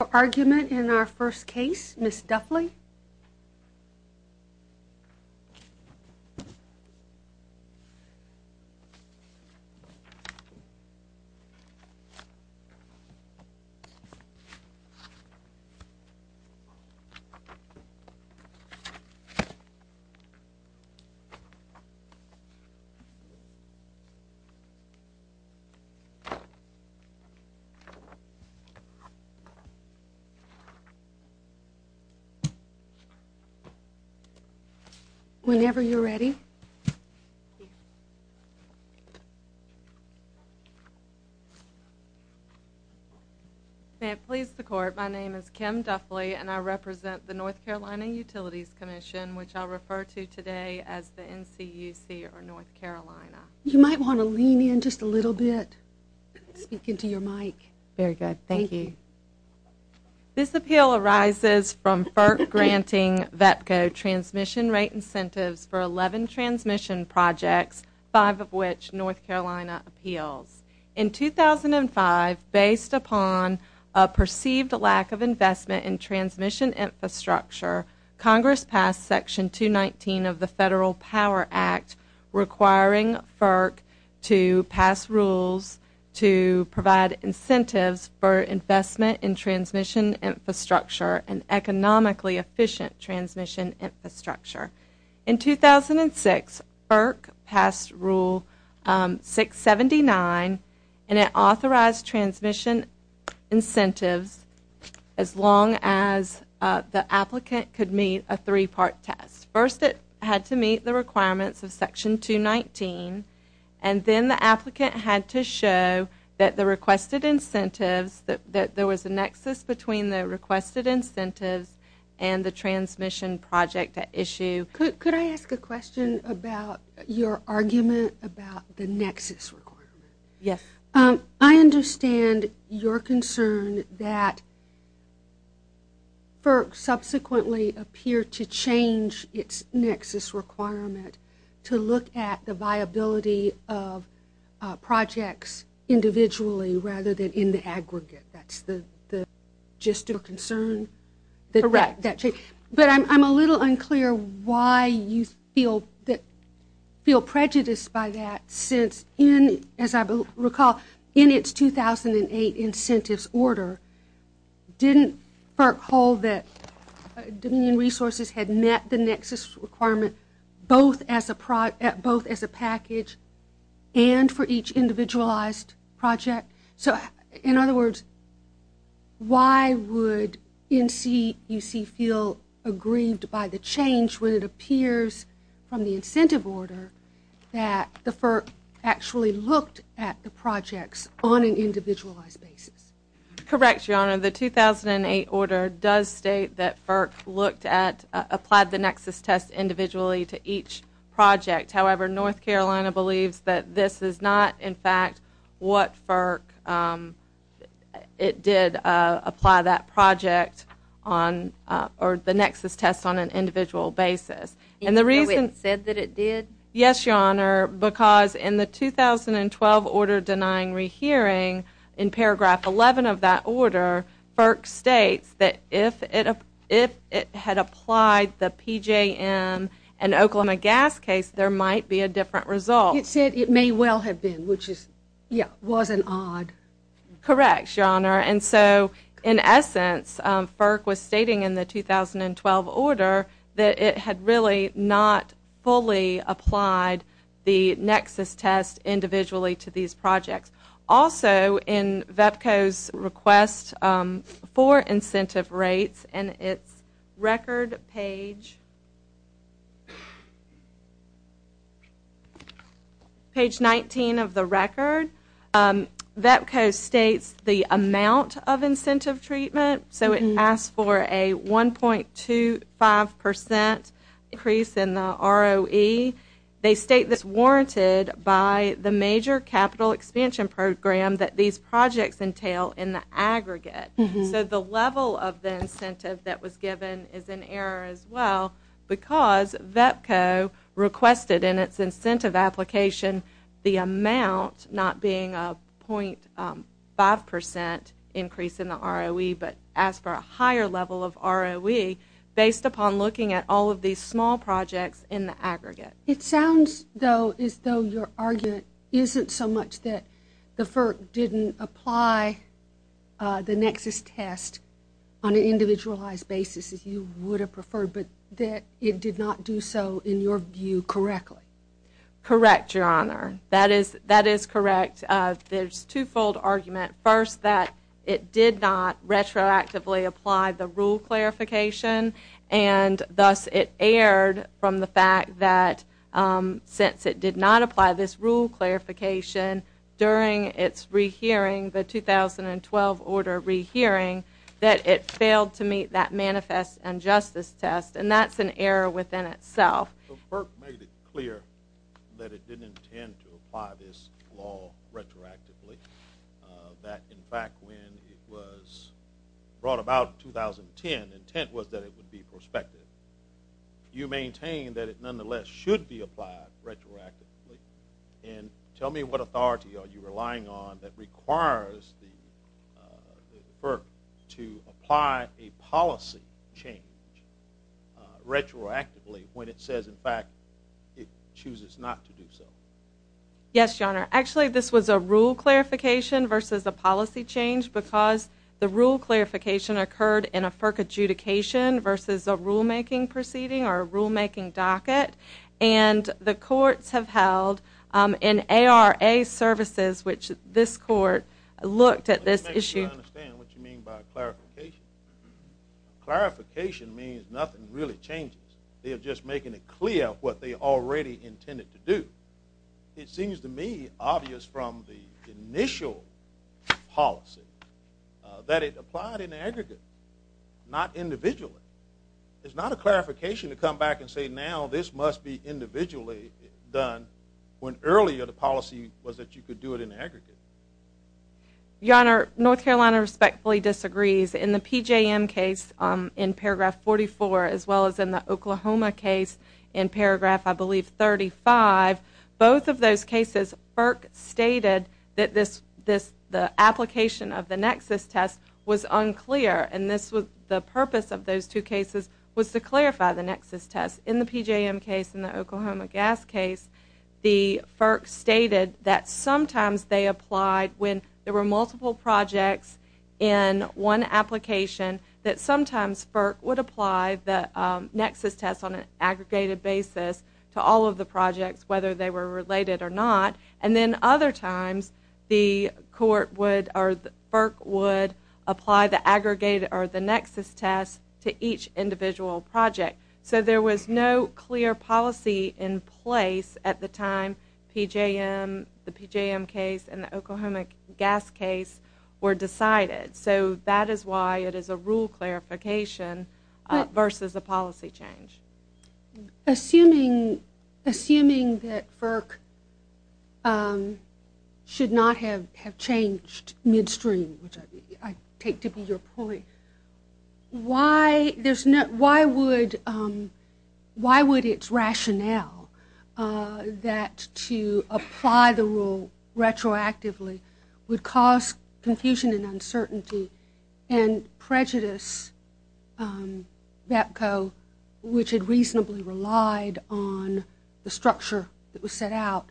Your argument in our first case, Ms. Duffley? May it please the Court, my name is Kim Duffley, and I represent the North Carolina Utilities Commission, which I'll refer to today as the NCUC, or North Carolina. You might want to lean in just a little bit, speak into your mic. Very good. Thank you. This appeal arises from FERC granting VETCO transmission rate incentives for 11 transmission projects, five of which North Carolina appeals. In 2005, based upon a perceived lack of investment in transmission infrastructure, Congress passed Section 219 of the Federal Power Act, requiring FERC to pass rules to provide incentives for investment in transmission infrastructure and economically efficient transmission infrastructure. In 2006, FERC passed Rule 679, and it authorized transmission incentives as long as the applicant could meet a three-part test. First it had to meet the requirements of Section 219, and then the applicant had to show that the requested incentives, that there was a nexus between the requested incentives and the transmission project at issue. Could I ask a question about your argument about the nexus requirement? Yes. I understand your concern that FERC subsequently appeared to change its nexus requirement to look at the viability of projects individually rather than in the aggregate. That's the gist of your concern? Correct. But I'm a little unclear why you feel prejudiced by that since, as I recall, in its 2008 incentives order, didn't FERC hold that Dominion Resources had met the nexus requirement both as a package and for each individualized project? So in other words, why would NCUC feel aggrieved by the change when it appears from the incentive order that the FERC actually looked at the projects on an individualized basis? Correct, Your Honor. The 2008 order does state that FERC looked at, applied the nexus test individually to each project. However, North Carolina believes that this is not, in fact, what FERC, it did apply that project on, or the nexus test on an individual basis. And the reason- So it said that it did? Yes, Your Honor, because in the 2012 order denying rehearing, in paragraph 11 of that might be a different result. It said it may well have been, which is, yeah, was an odd- Correct, Your Honor. And so, in essence, FERC was stating in the 2012 order that it had really not fully applied the nexus test individually to these projects. Also, in VEPCO's request for incentive rates, and it's record page 19 of the record, VEPCO states the amount of incentive treatment. So it asks for a 1.25 percent increase in the ROE. They state this warranted by the major capital expansion program that these projects entail in the aggregate. So the level of the incentive that was given is in error as well, because VEPCO requested in its incentive application the amount not being a 0.5 percent increase in the ROE, but asked for a higher level of ROE based upon looking at all of these small projects in the aggregate. It sounds, though, as though your argument isn't so much that the FERC didn't apply the nexus test on an individualized basis, as you would have preferred, but that it did not do so, in your view, correctly. Correct, Your Honor. That is correct. There's two-fold argument. First that it did not retroactively apply the rule clarification, and thus it erred from the fact that since it did not apply this rule clarification during its rehearing, the 2012 order rehearing, that it failed to meet that manifest injustice test. And that's an error within itself. FERC made it clear that it didn't intend to apply this law retroactively, that, in fact, when it was brought about in 2010, intent was that it would be prospective. You maintain that it, nonetheless, should be applied retroactively, and tell me what authority are you relying on that requires the FERC to apply a policy change retroactively when it says, in fact, it chooses not to do so? Yes, Your Honor. Actually, this was a rule clarification versus a policy change because the rule clarification occurred in a FERC adjudication versus a rulemaking proceeding or a rulemaking docket, and the courts have held an ARA services, which this court looked at this issue. Let me make sure I understand what you mean by clarification. Clarification means nothing really changes. They are just making it clear what they already intended to do. It seems to me obvious from the initial policy that it applied in aggregate, not individually. It's not a clarification to come back and say, now this must be individually done when earlier the policy was that you could do it in aggregate. Your Honor, North Carolina respectfully disagrees. In the PJM case in paragraph 44, as well as in the Oklahoma case in paragraph, I believe, 35, both of those cases FERC stated that the application of the nexus test was unclear. The purpose of those two cases was to clarify the nexus test. In the PJM case and the Oklahoma gas case, the FERC stated that sometimes they applied when there were multiple projects in one application, that sometimes FERC would apply the nexus test on an aggregated basis to all of the projects, whether they were related or not, and then other times the FERC would apply the nexus test to each individual project. So there was no clear policy in place at the time PJM, the PJM case, and the Oklahoma gas case were decided. So that is why it is a rule clarification versus a policy change. Assuming that FERC should not have changed midstream, which I take to be your point, why would its rationale that to apply the rule retroactively would cause confusion and uncertainty and prejudice, which had reasonably relied on the structure that was set out,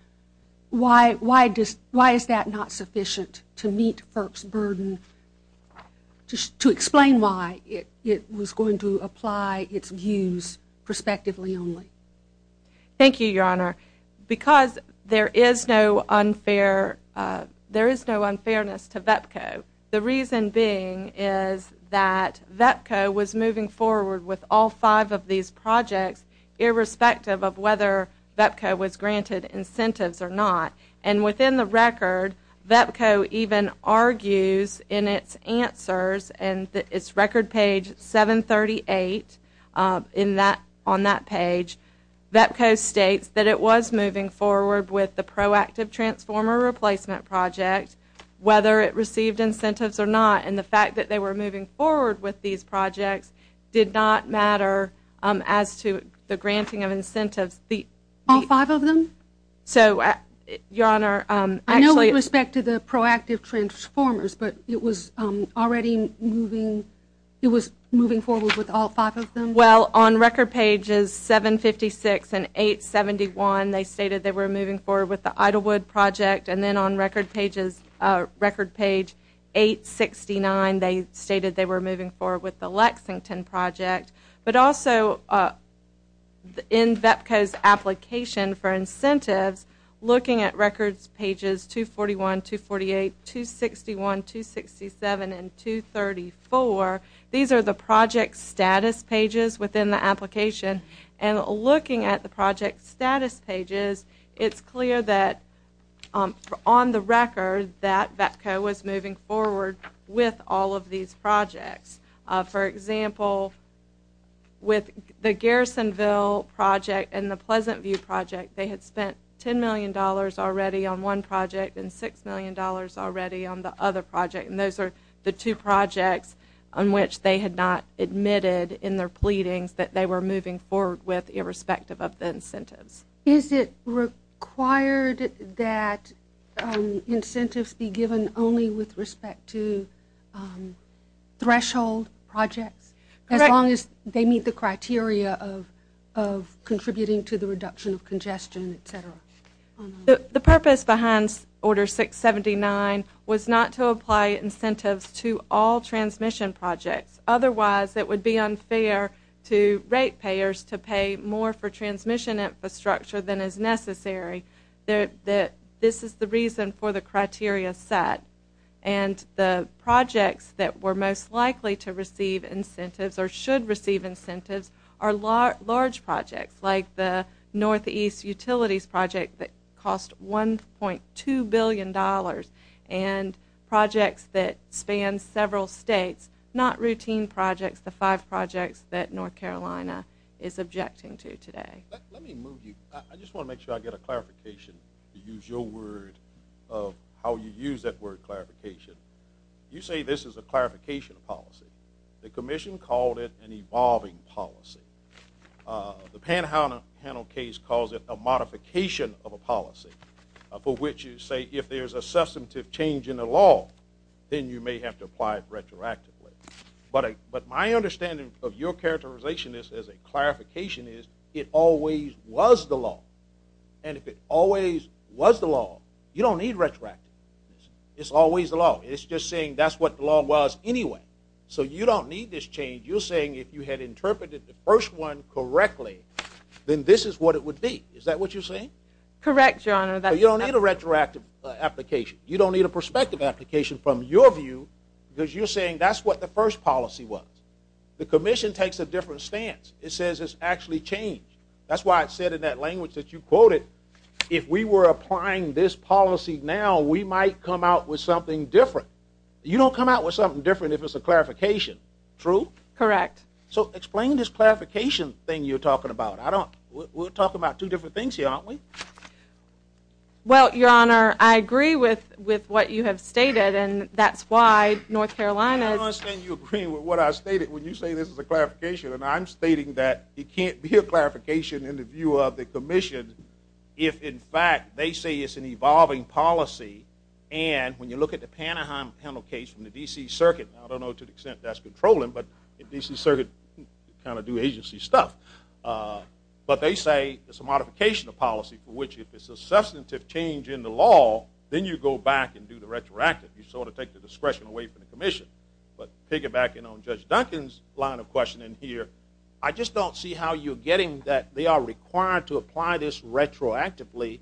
why is that not sufficient to meet FERC's burden to explain why it was going to apply its views prospectively only? Thank you, Your Honor. Because there is no unfairness to VEPCO, the reason being is that VEPCO was moving forward with all five of these projects, irrespective of whether VEPCO was granted incentives or not. And within the record, VEPCO even argues in its answers, and its record page 738 on that page, VEPCO states that it was moving forward with the proactive transformer replacement project, whether it received incentives or not, and the fact that they were moving forward with these projects did not matter as to the granting of incentives. All five of them? I know with respect to the proactive transformers, but it was already moving forward with all five of them? Well, on record pages 756 and 871, they stated they were moving forward with the Idlewood project, and then on record page 869, they stated they were moving forward with the Lexington project. But also, in VEPCO's application for incentives, looking at records pages 241, 248, 261, 267, and 234, these are the project status pages within the application, and looking at the on the record that VEPCO was moving forward with all of these projects. For example, with the Garrisonville project and the Pleasant View project, they had spent $10 million already on one project and $6 million already on the other project, and those are the two projects on which they had not admitted in their pleadings that they were moving forward with irrespective of the incentives. Is it required that incentives be given only with respect to threshold projects, as long as they meet the criteria of contributing to the reduction of congestion, et cetera? The purpose behind Order 679 was not to apply incentives to all transmission projects. Otherwise, it would be unfair to rate payers to pay more for transmission infrastructure than is necessary. This is the reason for the criteria set, and the projects that were most likely to receive incentives or should receive incentives are large projects, like the Northeast Utilities project that cost $1.2 billion, and projects that span several states, not routine projects, the five projects that North Carolina is objecting to today. Let me move you, I just want to make sure I get a clarification to use your word of how you use that word clarification. You say this is a clarification policy. The commission called it an evolving policy. The Panhandle case calls it a modification of a policy, for which you say if there's a substantive change in the law, then you may have to apply it retroactively. But my understanding of your characterization is, as a clarification is, it always was the law. And if it always was the law, you don't need retroactive. It's always the law. It's just saying that's what the law was anyway. So you don't need this change. You're saying if you had interpreted the first one correctly, then this is what it would be. Is that what you're saying? Correct, Your Honor. But you don't need a retroactive application. You don't need a prospective application from your view, because you're saying that's what the first policy was. The commission takes a different stance. It says it's actually changed. That's why it said in that language that you quoted, if we were applying this policy now, we might come out with something different. You don't come out with something different if it's a clarification. True? Correct. So explain this clarification thing you're talking about. We're talking about two different things here, aren't we? Well, Your Honor, I agree with what you have stated, and that's why North Carolina is I don't understand you agreeing with what I stated when you say this is a clarification. And I'm stating that it can't be a clarification in the view of the commission if, in fact, they say it's an evolving policy. And when you look at the Panahan Penal case from the D.C. Circuit, I don't know to the extent that that's controlling, but the D.C. Circuit kind of do agency stuff. But they say it's a modification of policy for which if it's a substantive change in the law, then you go back and do the retroactive. You sort of take the discretion away from the commission. But piggybacking on Judge Duncan's line of questioning here, I just don't see how you're getting that they are required to apply this retroactively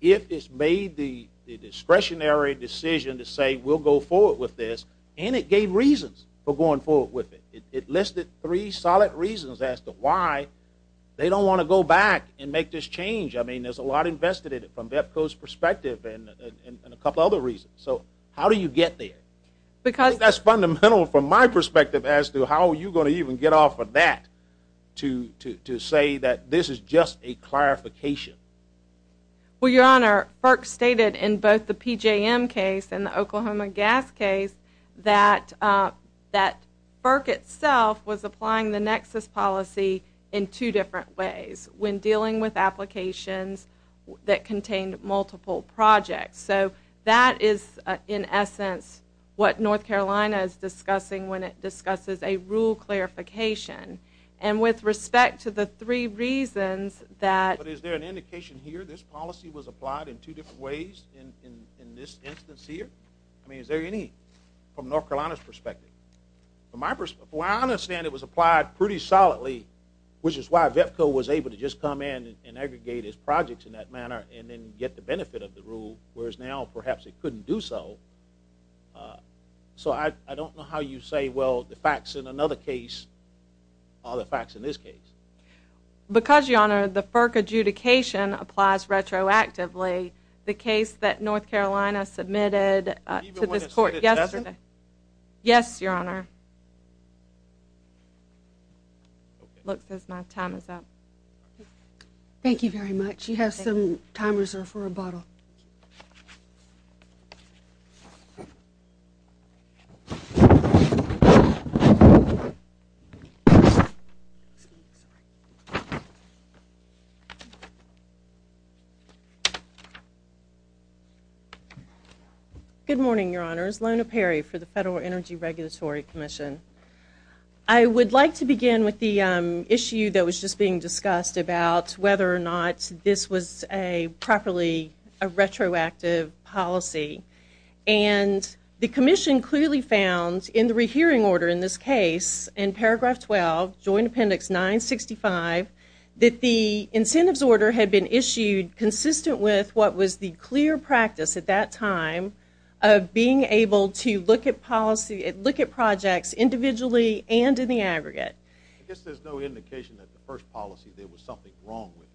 if it's made the discretionary decision to say we'll go forward with this, and it gave reasons for going forward with it. It listed three solid reasons as to why they don't want to go back and make this change. I mean, there's a lot invested in it from BEPCO's perspective and a couple other reasons. So how do you get there? Because that's fundamental from my perspective as to how you're going to even get off of that to say that this is just a clarification. Well, Your Honor, FERC stated in both the PJM case and the Oklahoma gas case that FERC itself was applying the nexus policy in two different ways when dealing with applications that contained multiple projects. So that is in essence what North Carolina is discussing when it discusses a rule clarification. And with respect to the three reasons that But is there an indication here this policy was applied in two different ways in this instance here? I mean, is there any from North Carolina's perspective? From my perspective, I understand it was applied pretty solidly, which is why BEPCO was able to just come in and aggregate its projects in that manner and then get the benefit of the rule, whereas now perhaps it couldn't do so. So I don't know how you say, well, the facts in another case are the facts in this case. Because, Your Honor, the FERC adjudication applies retroactively. The case that North Carolina submitted to this court yesterday Yes, Your Honor. Looks as my time is up. Thank you very much. You have some time reserved for rebuttal. Thank you. Good morning, Your Honors. Lona Perry for the Federal Energy Regulatory Commission. I would like to begin with the issue that was just being discussed about whether or And the commission clearly found in the rehearing order in this case, in paragraph 12, Joint Appendix 965, that the incentives order had been issued consistent with what was the clear practice at that time of being able to look at projects individually and in the aggregate. I guess there's no indication that the first policy there was something wrong with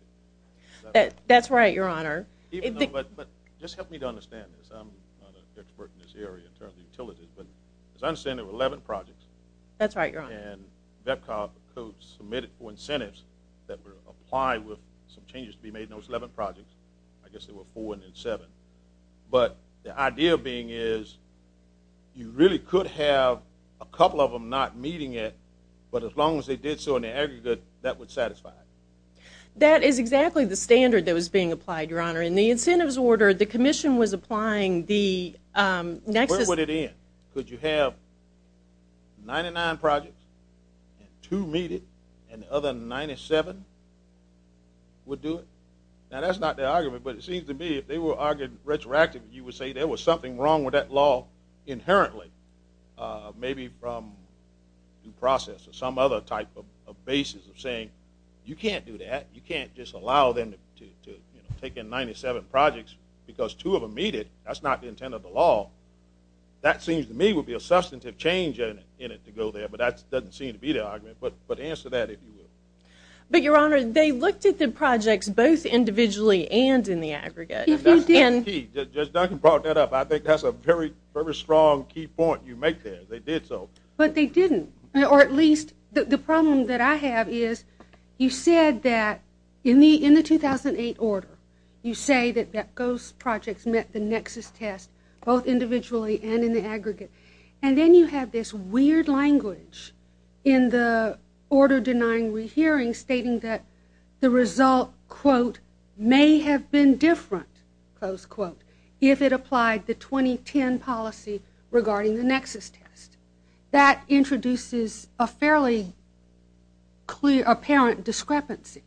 it. That's right, Your Honor. But just help me to understand this. I'm not an expert in this area in terms of utilities. But as I understand, there were 11 projects. That's right, Your Honor. And VEPCOB submitted for incentives that were applied with some changes to be made in those 11 projects. I guess there were four and then seven. But the idea being is you really could have a couple of them not meeting it, but as long as they did so in the aggregate, that would satisfy. That is exactly the standard that was being applied, Your Honor. In the incentives order, the commission was applying the nexus Where would it end? Could you have 99 projects and two meet it and the other 97 would do it? Now, that's not their argument, but it seems to me if they were arguing retroactively, you would say there was something wrong with that law inherently, maybe from due process or some other type of basis of saying you can't do that. You can't just allow them to take in 97 projects because two of them meet it. That's not the intent of the law. That seems to me would be a substantive change in it to go there. But that doesn't seem to be the argument. But answer that if you will. But, Your Honor, they looked at the projects both individually and in the aggregate. That's key. Just Duncan brought that up. I think that's a very, very strong key point you make there. They did so. But they didn't. Or at least the problem that I have is you said that in the 2008 order, you say that those projects met the nexus test both individually and in the aggregate. And then you have this weird language in the order denying rehearing stating that the result, quote, may have been different, close quote, if it applied the 2010 policy regarding the nexus test. That introduces a fairly apparent discrepancy.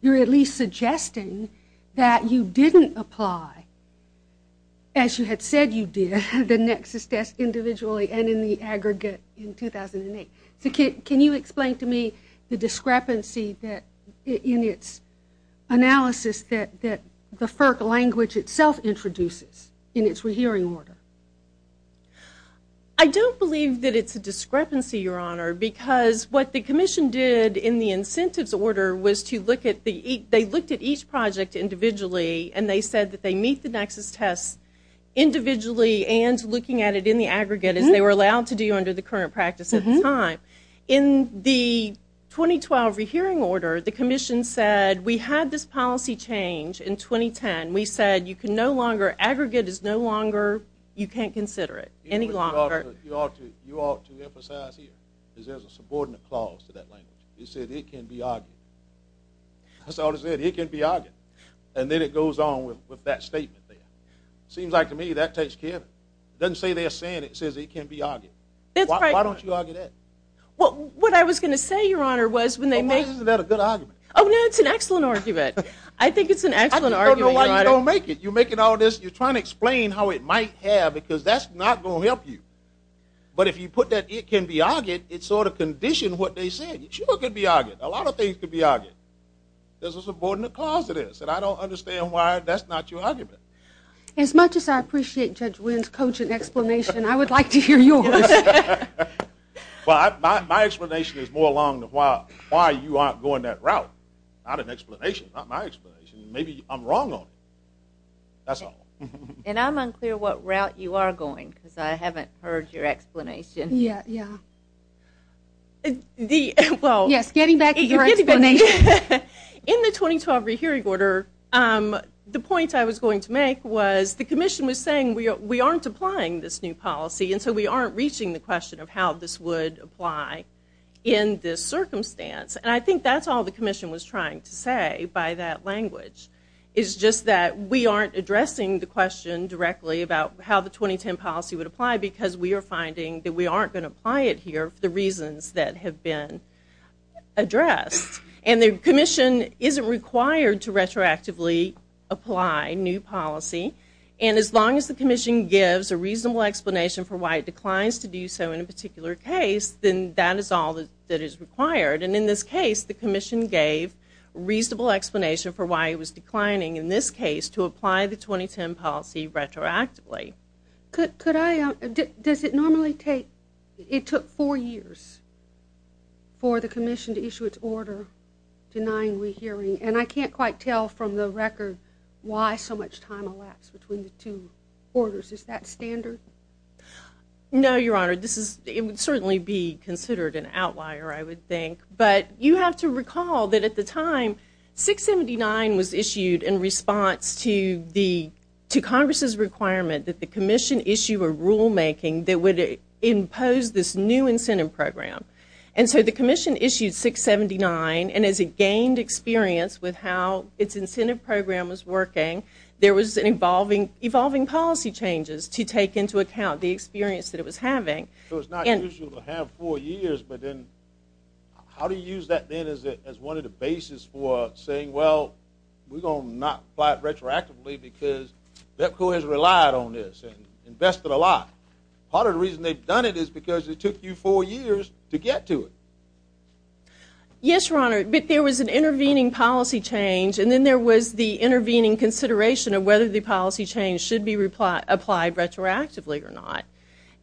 You're at least suggesting that you didn't apply, as you had said you did, the nexus test individually and in the aggregate in 2008. So can you explain to me the discrepancy in its analysis that the FERC language itself introduces in its rehearing order? I don't believe that it's a discrepancy, Your Honor, because what the commission did in the incentives order was to look at the ‑‑ they looked at each project individually, and they said that they meet the nexus test individually and looking at it in the aggregate as they were allowed to do under the current practice at the time. In the 2012 rehearing order, the commission said we had this policy change in 2010. We said you can no longer, aggregate is no longer, you can't consider it any longer. You ought to emphasize here that there's a subordinate clause to that language. You said it can be argued. That's all it said, it can be argued. And then it goes on with that statement there. It seems like to me that takes care of it. It doesn't say they're saying it, it says it can be argued. That's right. Why don't you argue that? Well, what I was going to say, Your Honor, was when they make ‑‑ Well, why isn't that a good argument? Oh, no, it's an excellent argument. I think it's an excellent argument, Your Honor. I don't know why you don't make it. You're making all this, you're trying to explain how it might have, because that's not going to help you. But if you put that it can be argued, it sort of conditioned what they said. It sure could be argued. A lot of things could be argued. There's a subordinate clause to this, and I don't understand why that's not your argument. As much as I appreciate Judge Wynn's coaching explanation, I would like to hear yours. Well, my explanation is more along the why you aren't going that route. Not an explanation, not my explanation. Maybe I'm wrong on it. That's all. And I'm unclear what route you are going, because I haven't heard your explanation. Yeah, yeah. Yes, getting back to your explanation. In the 2012 rehearing order, the point I was going to make was the commission was saying we aren't applying this new policy, and so we aren't reaching the question of how this would apply in this circumstance. And I think that's all the commission was trying to say by that language, is just that we aren't addressing the question directly about how the 2010 policy would apply, because we are finding that we aren't going to apply it here for the reasons that have been addressed. And the commission isn't required to retroactively apply new policy. And as long as the commission gives a reasonable explanation for why it declines to do so in a particular case, then that is all that is required. And in this case, the commission gave a reasonable explanation for why it was declining, in this case, to apply the 2010 policy retroactively. Does it normally take – it took four years for the commission to issue its order denying rehearing? And I can't quite tell from the record why so much time elapsed between the two orders. Is that standard? No, Your Honor. This is – it would certainly be considered an outlier, I would think. But you have to recall that at the time, 679 was issued in response to the – to Congress's requirement that the commission issue a rulemaking that would impose this new incentive program. And so the commission issued 679, and as it gained experience with how its incentive program was working, there was an evolving policy changes to take into account the experience that it was having. So it's not usual to have four years, but then how do you use that then as one of the bases for saying, well, we're going to not apply it retroactively because BEPCO has relied on this and invested a lot. Part of the reason they've done it is because it took you four years to get to it. Yes, Your Honor. But there was an intervening policy change, and then there was the intervening consideration of whether the policy change should be applied retroactively or not.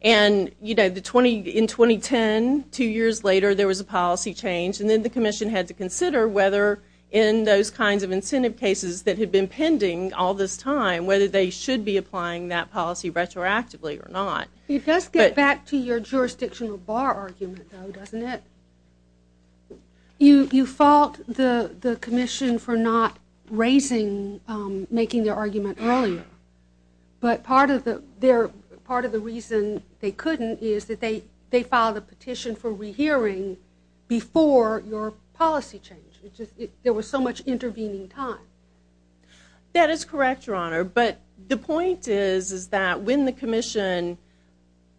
And, you know, in 2010, two years later, there was a policy change, and then the commission had to consider whether in those kinds of incentive cases that had been pending all this time whether they should be applying that policy retroactively or not. It does get back to your jurisdictional bar argument, though, doesn't it? You fault the commission for not raising – making their argument earlier, but part of the reason they couldn't is that they filed a petition for rehearing before your policy change. There was so much intervening time. That is correct, Your Honor, but the point is that when the commission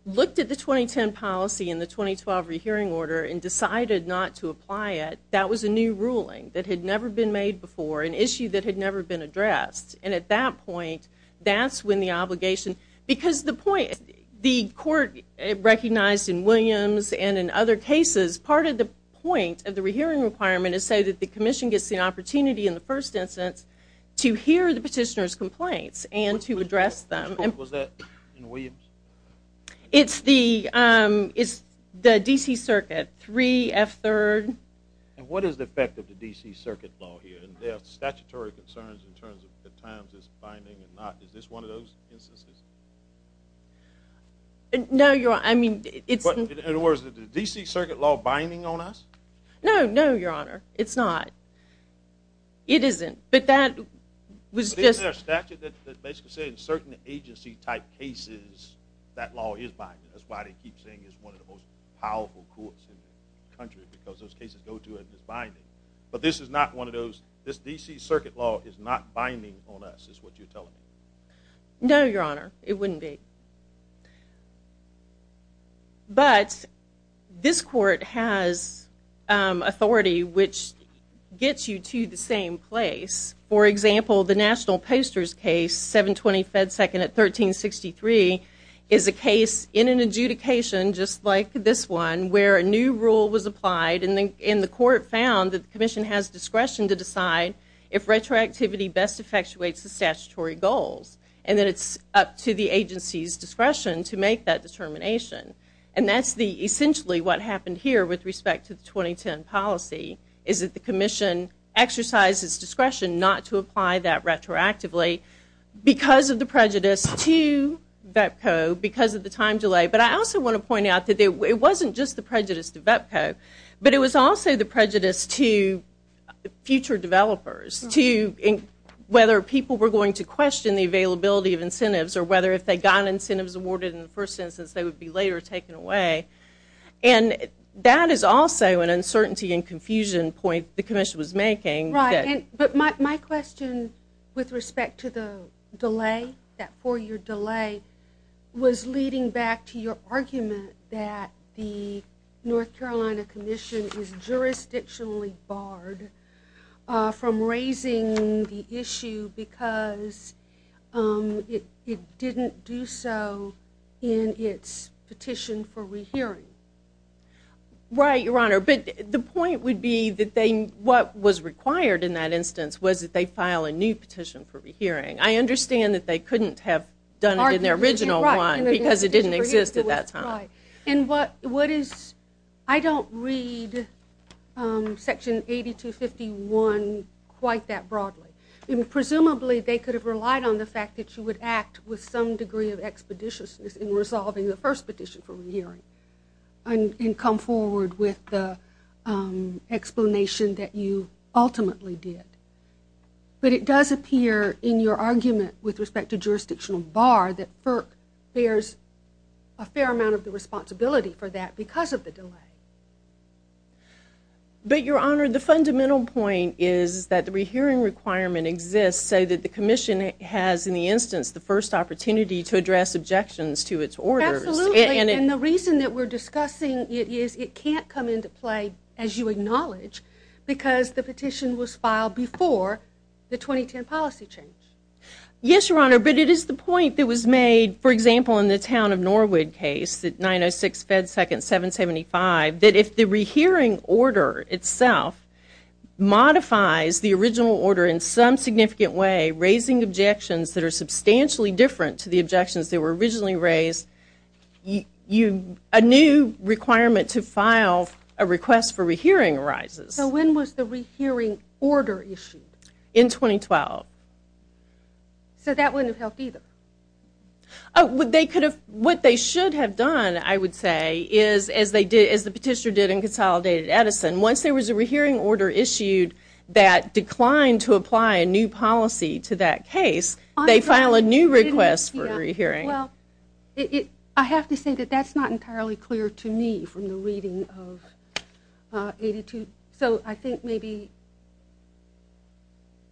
looked at the 2010 policy and the 2012 rehearing order and decided not to apply it, that was a new ruling that had never been made before, an issue that had never been addressed. And at that point, that's when the obligation – because the point – the court recognized in Williams and in other cases part of the point of the rehearing requirement is so that the commission gets the opportunity in the first instance to hear the petitioner's complaints and to address them. Which court was that in Williams? It's the – it's the D.C. Circuit, 3F3rd. And what is the effect of the D.C. Circuit Law here? There are statutory concerns in terms of the times it's binding and not. Is this one of those instances? No, Your Honor. I mean, it's – In other words, is the D.C. Circuit Law binding on us? No, no, Your Honor. It's not. It isn't. But that was just – But isn't there a statute that basically says in certain agency-type cases that law is binding? That's why they keep saying it's one of the most powerful courts in the country because those cases go to it and it's binding. But this is not one of those – this D.C. Circuit Law is not binding on us is what you're telling me. No, Your Honor. It wouldn't be. But this court has authority which gets you to the same place. For example, the National Posters case, 720 Fed 2nd at 1363, is a case in an adjudication just like this one where a new rule was applied and the court found that the commission has discretion to decide if retroactivity best effectuates the statutory goals. And that it's up to the agency's discretion to make that determination. And that's essentially what happened here with respect to the 2010 policy is that the commission exercised its discretion not to apply that retroactively because of the prejudice to VEPCO, because of the time delay. But I also want to point out that it wasn't just the prejudice to VEPCO, but it was also the prejudice to future developers, whether people were going to question the availability of incentives or whether if they got incentives awarded in the first instance they would be later taken away. And that is also an uncertainty and confusion point the commission was making. Right. But my question with respect to the delay, that four-year delay, was leading back to your argument that the North Carolina Commission is jurisdictionally barred from raising the issue because it didn't do so in its petition for rehearing. Right, Your Honor. But the point would be that what was required in that instance was that they file a new petition for rehearing. I understand that they couldn't have done it in their original one because it didn't exist at that time. Right. And what is, I don't read Section 8251 quite that broadly. Presumably they could have relied on the fact that you would act with some degree of expeditiousness in resolving the first petition for rehearing and come forward with the explanation that you ultimately did. But it does appear in your argument with respect to jurisdictional bar that FERC bears a fair amount of the responsibility for that because of the delay. But, Your Honor, the fundamental point is that the rehearing requirement exists so that the commission has, in the instance, the first opportunity to address objections to its orders. Absolutely. And the reason that we're discussing it is it can't come into play, as you acknowledge, because the petition was filed before the 2010 policy change. Yes, Your Honor, but it is the point that was made, for example, in the town of Norwood case, 906 Fed 2nd 775, that if the rehearing order itself modifies the original order in some significant way, raising objections that are substantially different to the objections that were originally raised, a new requirement to file a request for rehearing arises. So when was the rehearing order issued? In 2012. So that wouldn't have helped either. What they should have done, I would say, is, as the petitioner did in Consolidated Edison, once there was a rehearing order issued that declined to apply a new policy to that case, they file a new request for rehearing. Well, I have to say that that's not entirely clear to me from the reading of 82. So I think maybe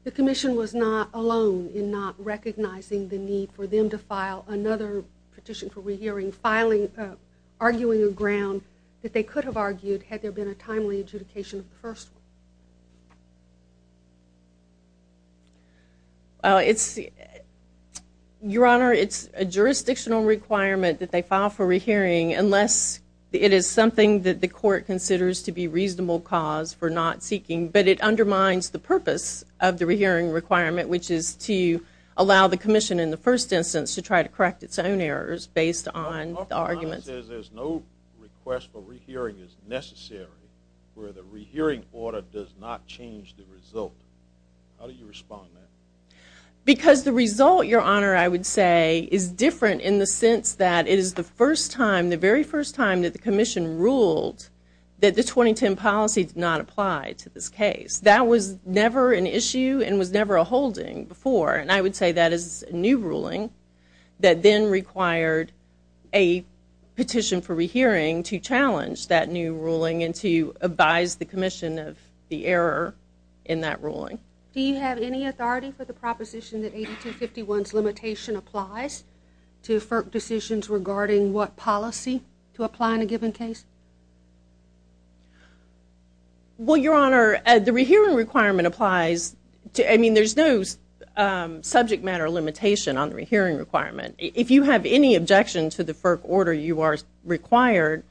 the Commission was not alone in not recognizing the need for them to file another petition for rehearing, arguing a ground that they could have argued had there been a timely adjudication of the first one. Your Honor, it's a jurisdictional requirement that they file for rehearing unless it is something that the Court considers to be a reasonable cause for not seeking, but it undermines the purpose of the rehearing requirement, which is to allow the Commission in the first instance to try to correct its own errors based on the arguments. But the argument says there's no request for rehearing is necessary where the rehearing order does not change the result. How do you respond to that? Because the result, Your Honor, I would say, is different in the sense that it is the first time, the very first time, that the Commission ruled that the 2010 policy did not apply to this case. That was never an issue and was never a holding before, and I would say that is a new ruling that then required a petition for rehearing to challenge that new ruling and to advise the Commission of the error in that ruling. Do you have any authority for the proposition that 8251's limitation applies to FERC decisions regarding what policy to apply in a given case? Well, Your Honor, the rehearing requirement applies to, I mean, there's no subject matter limitation on the rehearing requirement. If you have any objection to the FERC order, you are required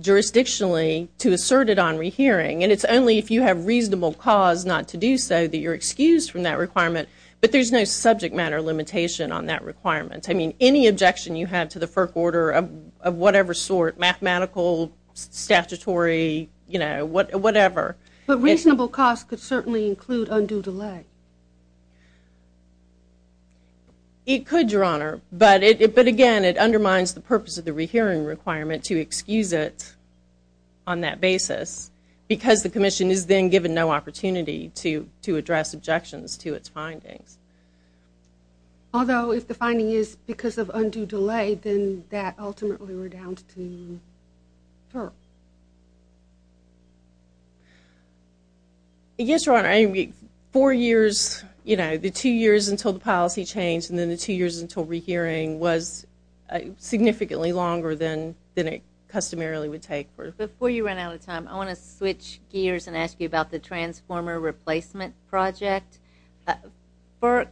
jurisdictionally to assert it on rehearing, and it's only if you have reasonable cause not to do so that you're excused from that requirement, but there's no subject matter limitation on that requirement. I mean, any objection you have to the FERC order of whatever sort, mathematical, statutory, you know, whatever. But reasonable cost could certainly include undue delay. And it undermines the purpose of the rehearing requirement to excuse it on that basis because the Commission is then given no opportunity to address objections to its findings. Although if the finding is because of undue delay, then that ultimately were down to FERC. Yes, Your Honor, I mean, four years, you know, the two years until the policy changed and then the two years until rehearing was significantly longer than it customarily would take. Before you run out of time, I want to switch gears and ask you about the transformer replacement project. FERC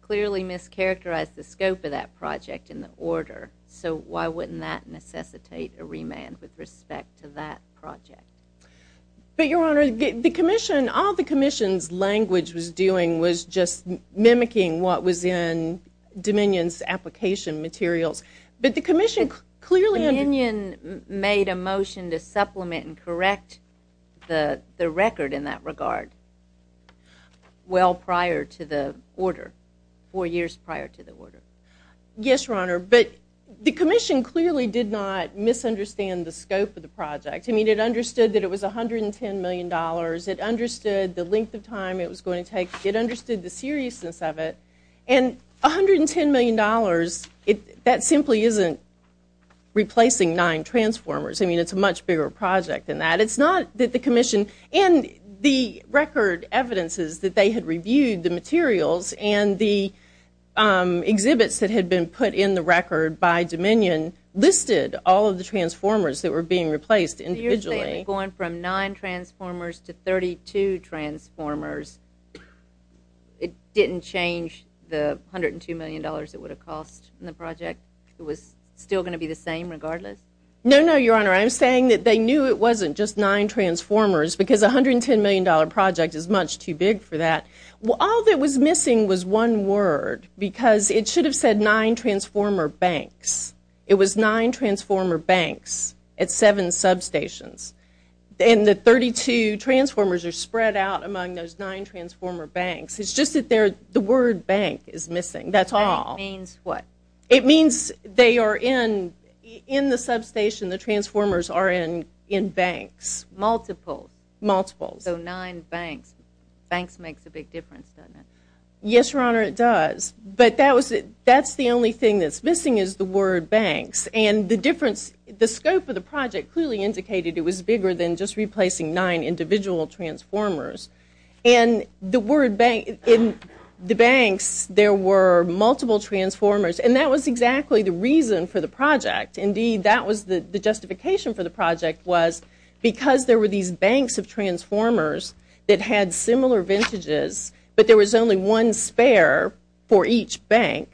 clearly mischaracterized the scope of that project in the order, so why wouldn't that necessitate a remand with respect to that project? But, Your Honor, the Commission, all the Commission's language was doing was just mimicking what was in Dominion's application materials. But the Commission clearly… Dominion made a motion to supplement and correct the record in that regard well prior to the order, four years prior to the order. Yes, Your Honor, but the Commission clearly did not misunderstand the scope of the project. I mean, it understood that it was $110 million. It understood the length of time it was going to take. It understood the seriousness of it. And $110 million, that simply isn't replacing nine transformers. I mean, it's a much bigger project than that. It's not that the Commission and the record evidences that they had reviewed the materials and the exhibits that had been put in the record by Dominion listed all of the transformers that were being replaced individually. So you're saying going from nine transformers to 32 transformers, it didn't change the $102 million it would have cost in the project? It was still going to be the same regardless? No, no, Your Honor. I'm saying that they knew it wasn't just nine transformers because a $110 million project is much too big for that. All that was missing was one word because it should have said nine transformer banks. It was nine transformer banks at seven substations. And the 32 transformers are spread out among those nine transformer banks. It's just that the word bank is missing. That's all. It means what? It means they are in the substation, the transformers are in banks. Multiple. Multiple. So nine banks. Banks makes a big difference, doesn't it? Yes, Your Honor, it does. But that's the only thing that's missing is the word banks. And the difference, the scope of the project clearly indicated it was bigger than just replacing nine individual transformers. And the word banks, in the banks there were multiple transformers. And that was exactly the reason for the project. Indeed, that was the justification for the project was because there were these banks of transformers that had similar vintages but there was only one spare for each bank,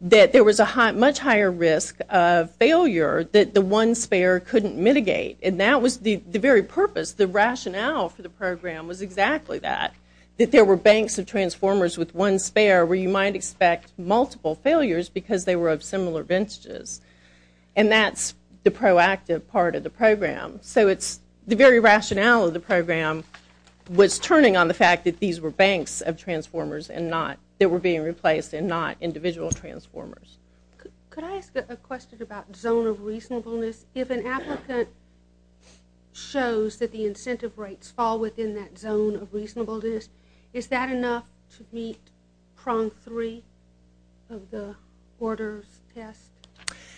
that there was a much higher risk of failure that the one spare couldn't mitigate. And that was the very purpose, the rationale for the program was exactly that, that there were banks of transformers with one spare where you might expect multiple failures because they were of similar vintages. And that's the proactive part of the program. So it's the very rationale of the program was turning on the fact that these were banks of transformers and not that were being replaced and not individual transformers. Could I ask a question about zone of reasonableness? If an applicant shows that the incentive rates fall within that zone of reasonableness, is that enough to meet prong three of the orders test?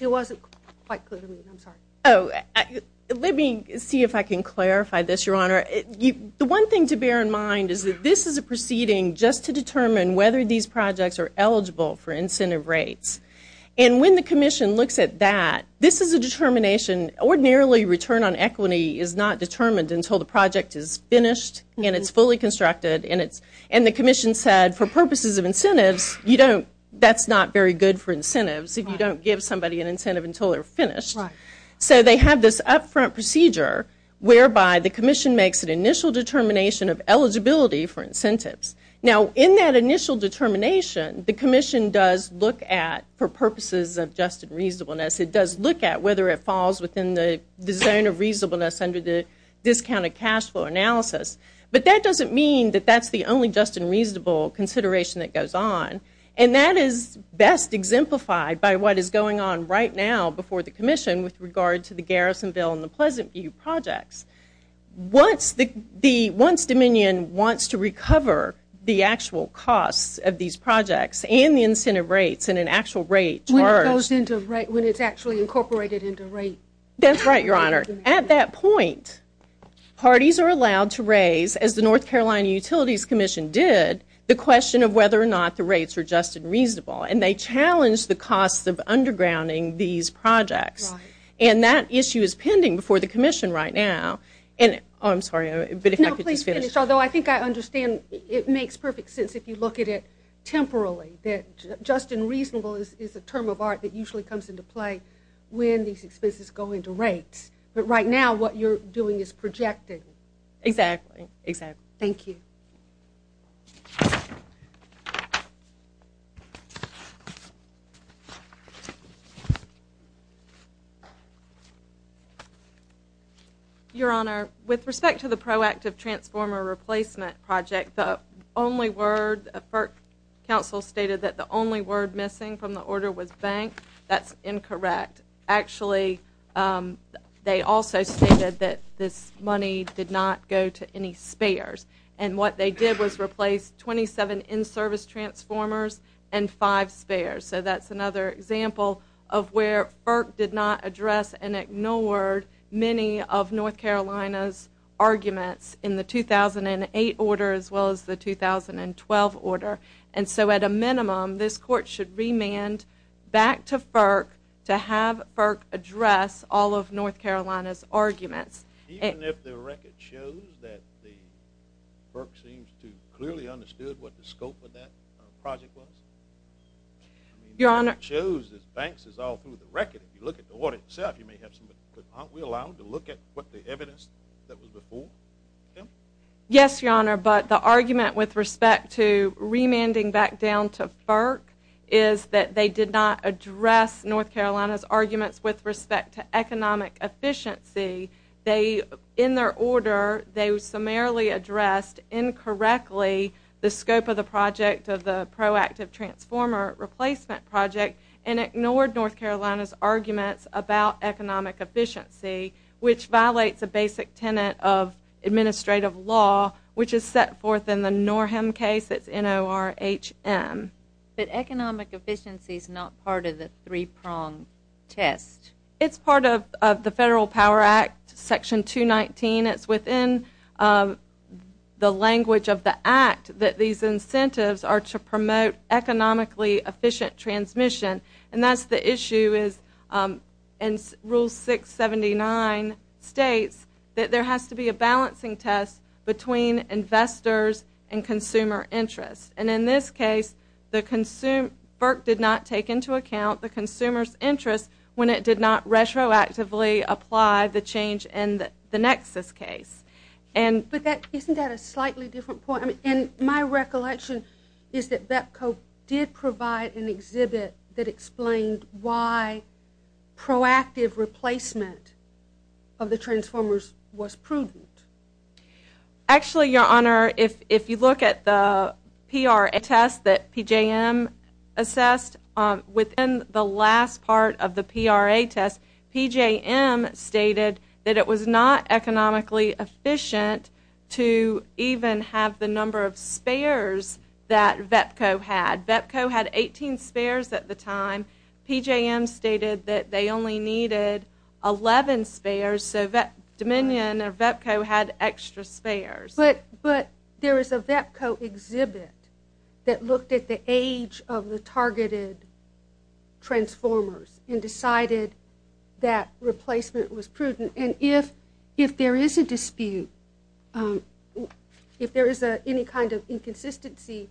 It wasn't quite clear to me. I'm sorry. Let me see if I can clarify this, Your Honor. The one thing to bear in mind is that this is a proceeding just to determine whether these projects are eligible for incentive rates. And when the commission looks at that, this is a determination. Ordinarily return on equity is not determined until the project is finished and it's fully constructed and the commission said for purposes of incentives, that's not very good for incentives if you don't give somebody an incentive until they're finished. Right. So they have this upfront procedure whereby the commission makes an initial determination of eligibility for incentives. Now, in that initial determination, the commission does look at, for purposes of just and reasonableness, it does look at whether it falls within the zone of reasonableness under the discounted cash flow analysis. But that doesn't mean that that's the only just and reasonable consideration that goes on. And that is best exemplified by what is going on right now before the commission with regard to the Garrisonville and the Pleasant View projects. Once Dominion wants to recover the actual costs of these projects and the incentive rates and an actual rate charged. When it's actually incorporated into rate. That's right, Your Honor. At that point, parties are allowed to raise, as the North Carolina Utilities Commission did, the question of whether or not the rates are just and reasonable. And they challenge the costs of undergrounding these projects. And that issue is pending before the commission right now. I'm sorry, but if I could just finish. No, please finish. Although I think I understand it makes perfect sense if you look at it temporarily, that just and reasonable is a term of art that usually comes into play when these expenses go into rates. But right now, what you're doing is projecting. Exactly, exactly. Thank you. Your Honor, with respect to the proactive transformer replacement project, the only word, FERC counsel stated that the only word missing from the order was bank. That's incorrect. Actually, they also stated that this money did not go to any spares. And what they did was replace 27 in-service transformers and five spares. So that's another example of where FERC did not address and ignored many of North Carolina's arguments in the 2008 order as well as the 2012 order. And so at a minimum, this court should remand back to FERC to have FERC address all of North Carolina's arguments. Even if the record shows that the FERC seems to clearly understood what the scope of that project was? Your Honor. It shows that banks is all through the record. If you look at the audit itself, aren't we allowed to look at what the evidence that was before? Yes, Your Honor. But the argument with respect to remanding back down to FERC is that they did not address North Carolina's arguments with respect to economic efficiency. In their order, they summarily addressed incorrectly the scope of the project of the proactive transformer replacement project and ignored North Carolina's arguments about economic efficiency, which violates a basic tenet of administrative law, which is set forth in the Norham case. It's N-O-R-H-M. But economic efficiency is not part of the three-prong test. It's part of the Federal Power Act, Section 219. It's within the language of the act that these incentives are to promote economically efficient transmission. And that's the issue. And Rule 679 states that there has to be a balancing test between investors and consumer interest. And in this case, FERC did not take into account the consumer's interest when it did not retroactively apply the change in the nexus case. But isn't that a slightly different point? And my recollection is that BEPCO did provide an exhibit that explained why proactive replacement of the transformers was prudent. Actually, Your Honor, if you look at the PRA test that PJM assessed, within the last part of the PRA test, PJM stated that it was not economically efficient to even have the number of spares that BEPCO had. BEPCO had 18 spares at the time. PJM stated that they only needed 11 spares, so Dominion or BEPCO had extra spares. But there is a BEPCO exhibit that looked at the age of the targeted transformers and decided that replacement was prudent. And if there is a dispute, if there is any kind of inconsistency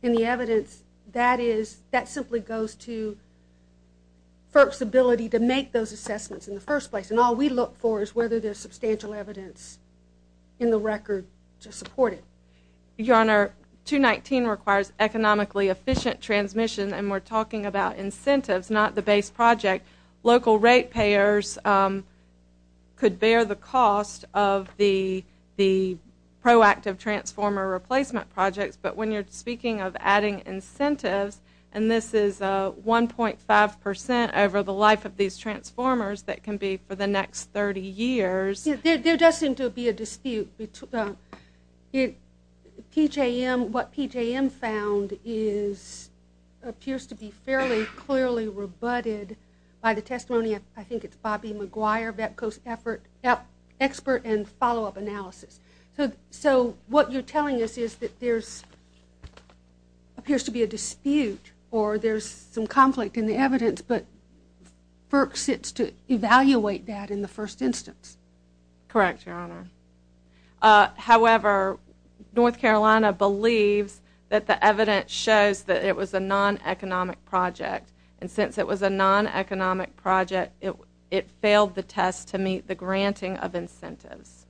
in the evidence, that simply goes to FERC's ability to make those assessments in the first place. And all we look for is whether there's substantial evidence in the record to support it. Your Honor, 219 requires economically efficient transmission, and we're talking about incentives, not the base project. Local rate payers could bear the cost of the proactive transformer replacement projects, but when you're speaking of adding incentives, and this is 1.5 percent over the life of these transformers that can be for the next 30 years. There does seem to be a dispute. PJM, what PJM found appears to be fairly clearly rebutted by the testimony, I think it's Bobby McGuire, BEPCO's expert in follow-up analysis. So what you're telling us is that there appears to be a dispute or there's some conflict in the evidence, but FERC sits to evaluate that in the first instance. Correct, Your Honor. However, North Carolina believes that the evidence shows that it was a non-economic project, and since it was a non-economic project, it failed the test to meet the granting of incentives.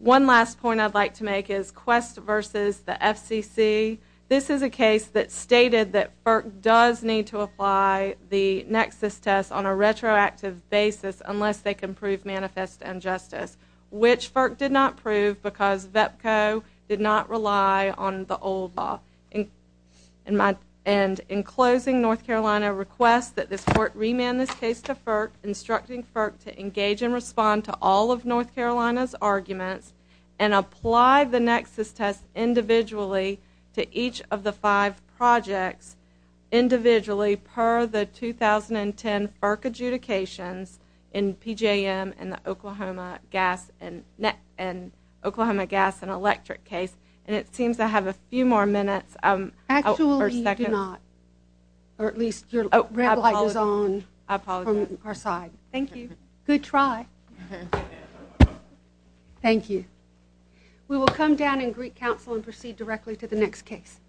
One last point I'd like to make is Quest versus the FCC. This is a case that stated that FERC does need to apply the nexus test on a retroactive basis unless they can prove manifest injustice, which FERC did not prove because BEPCO did not rely on the old law. And in closing, North Carolina requests that this court remand this case to FERC, instructing FERC to engage and respond to all of North Carolina's arguments and apply the nexus test individually to each of the five projects individually per the 2010 FERC adjudications in PJM and the Oklahoma Gas and Electric case. And it seems I have a few more minutes. Actually, you do not. Or at least your red light is on from our side. Thank you. Good try. Thank you. We will come down and greet counsel and proceed directly to the next case.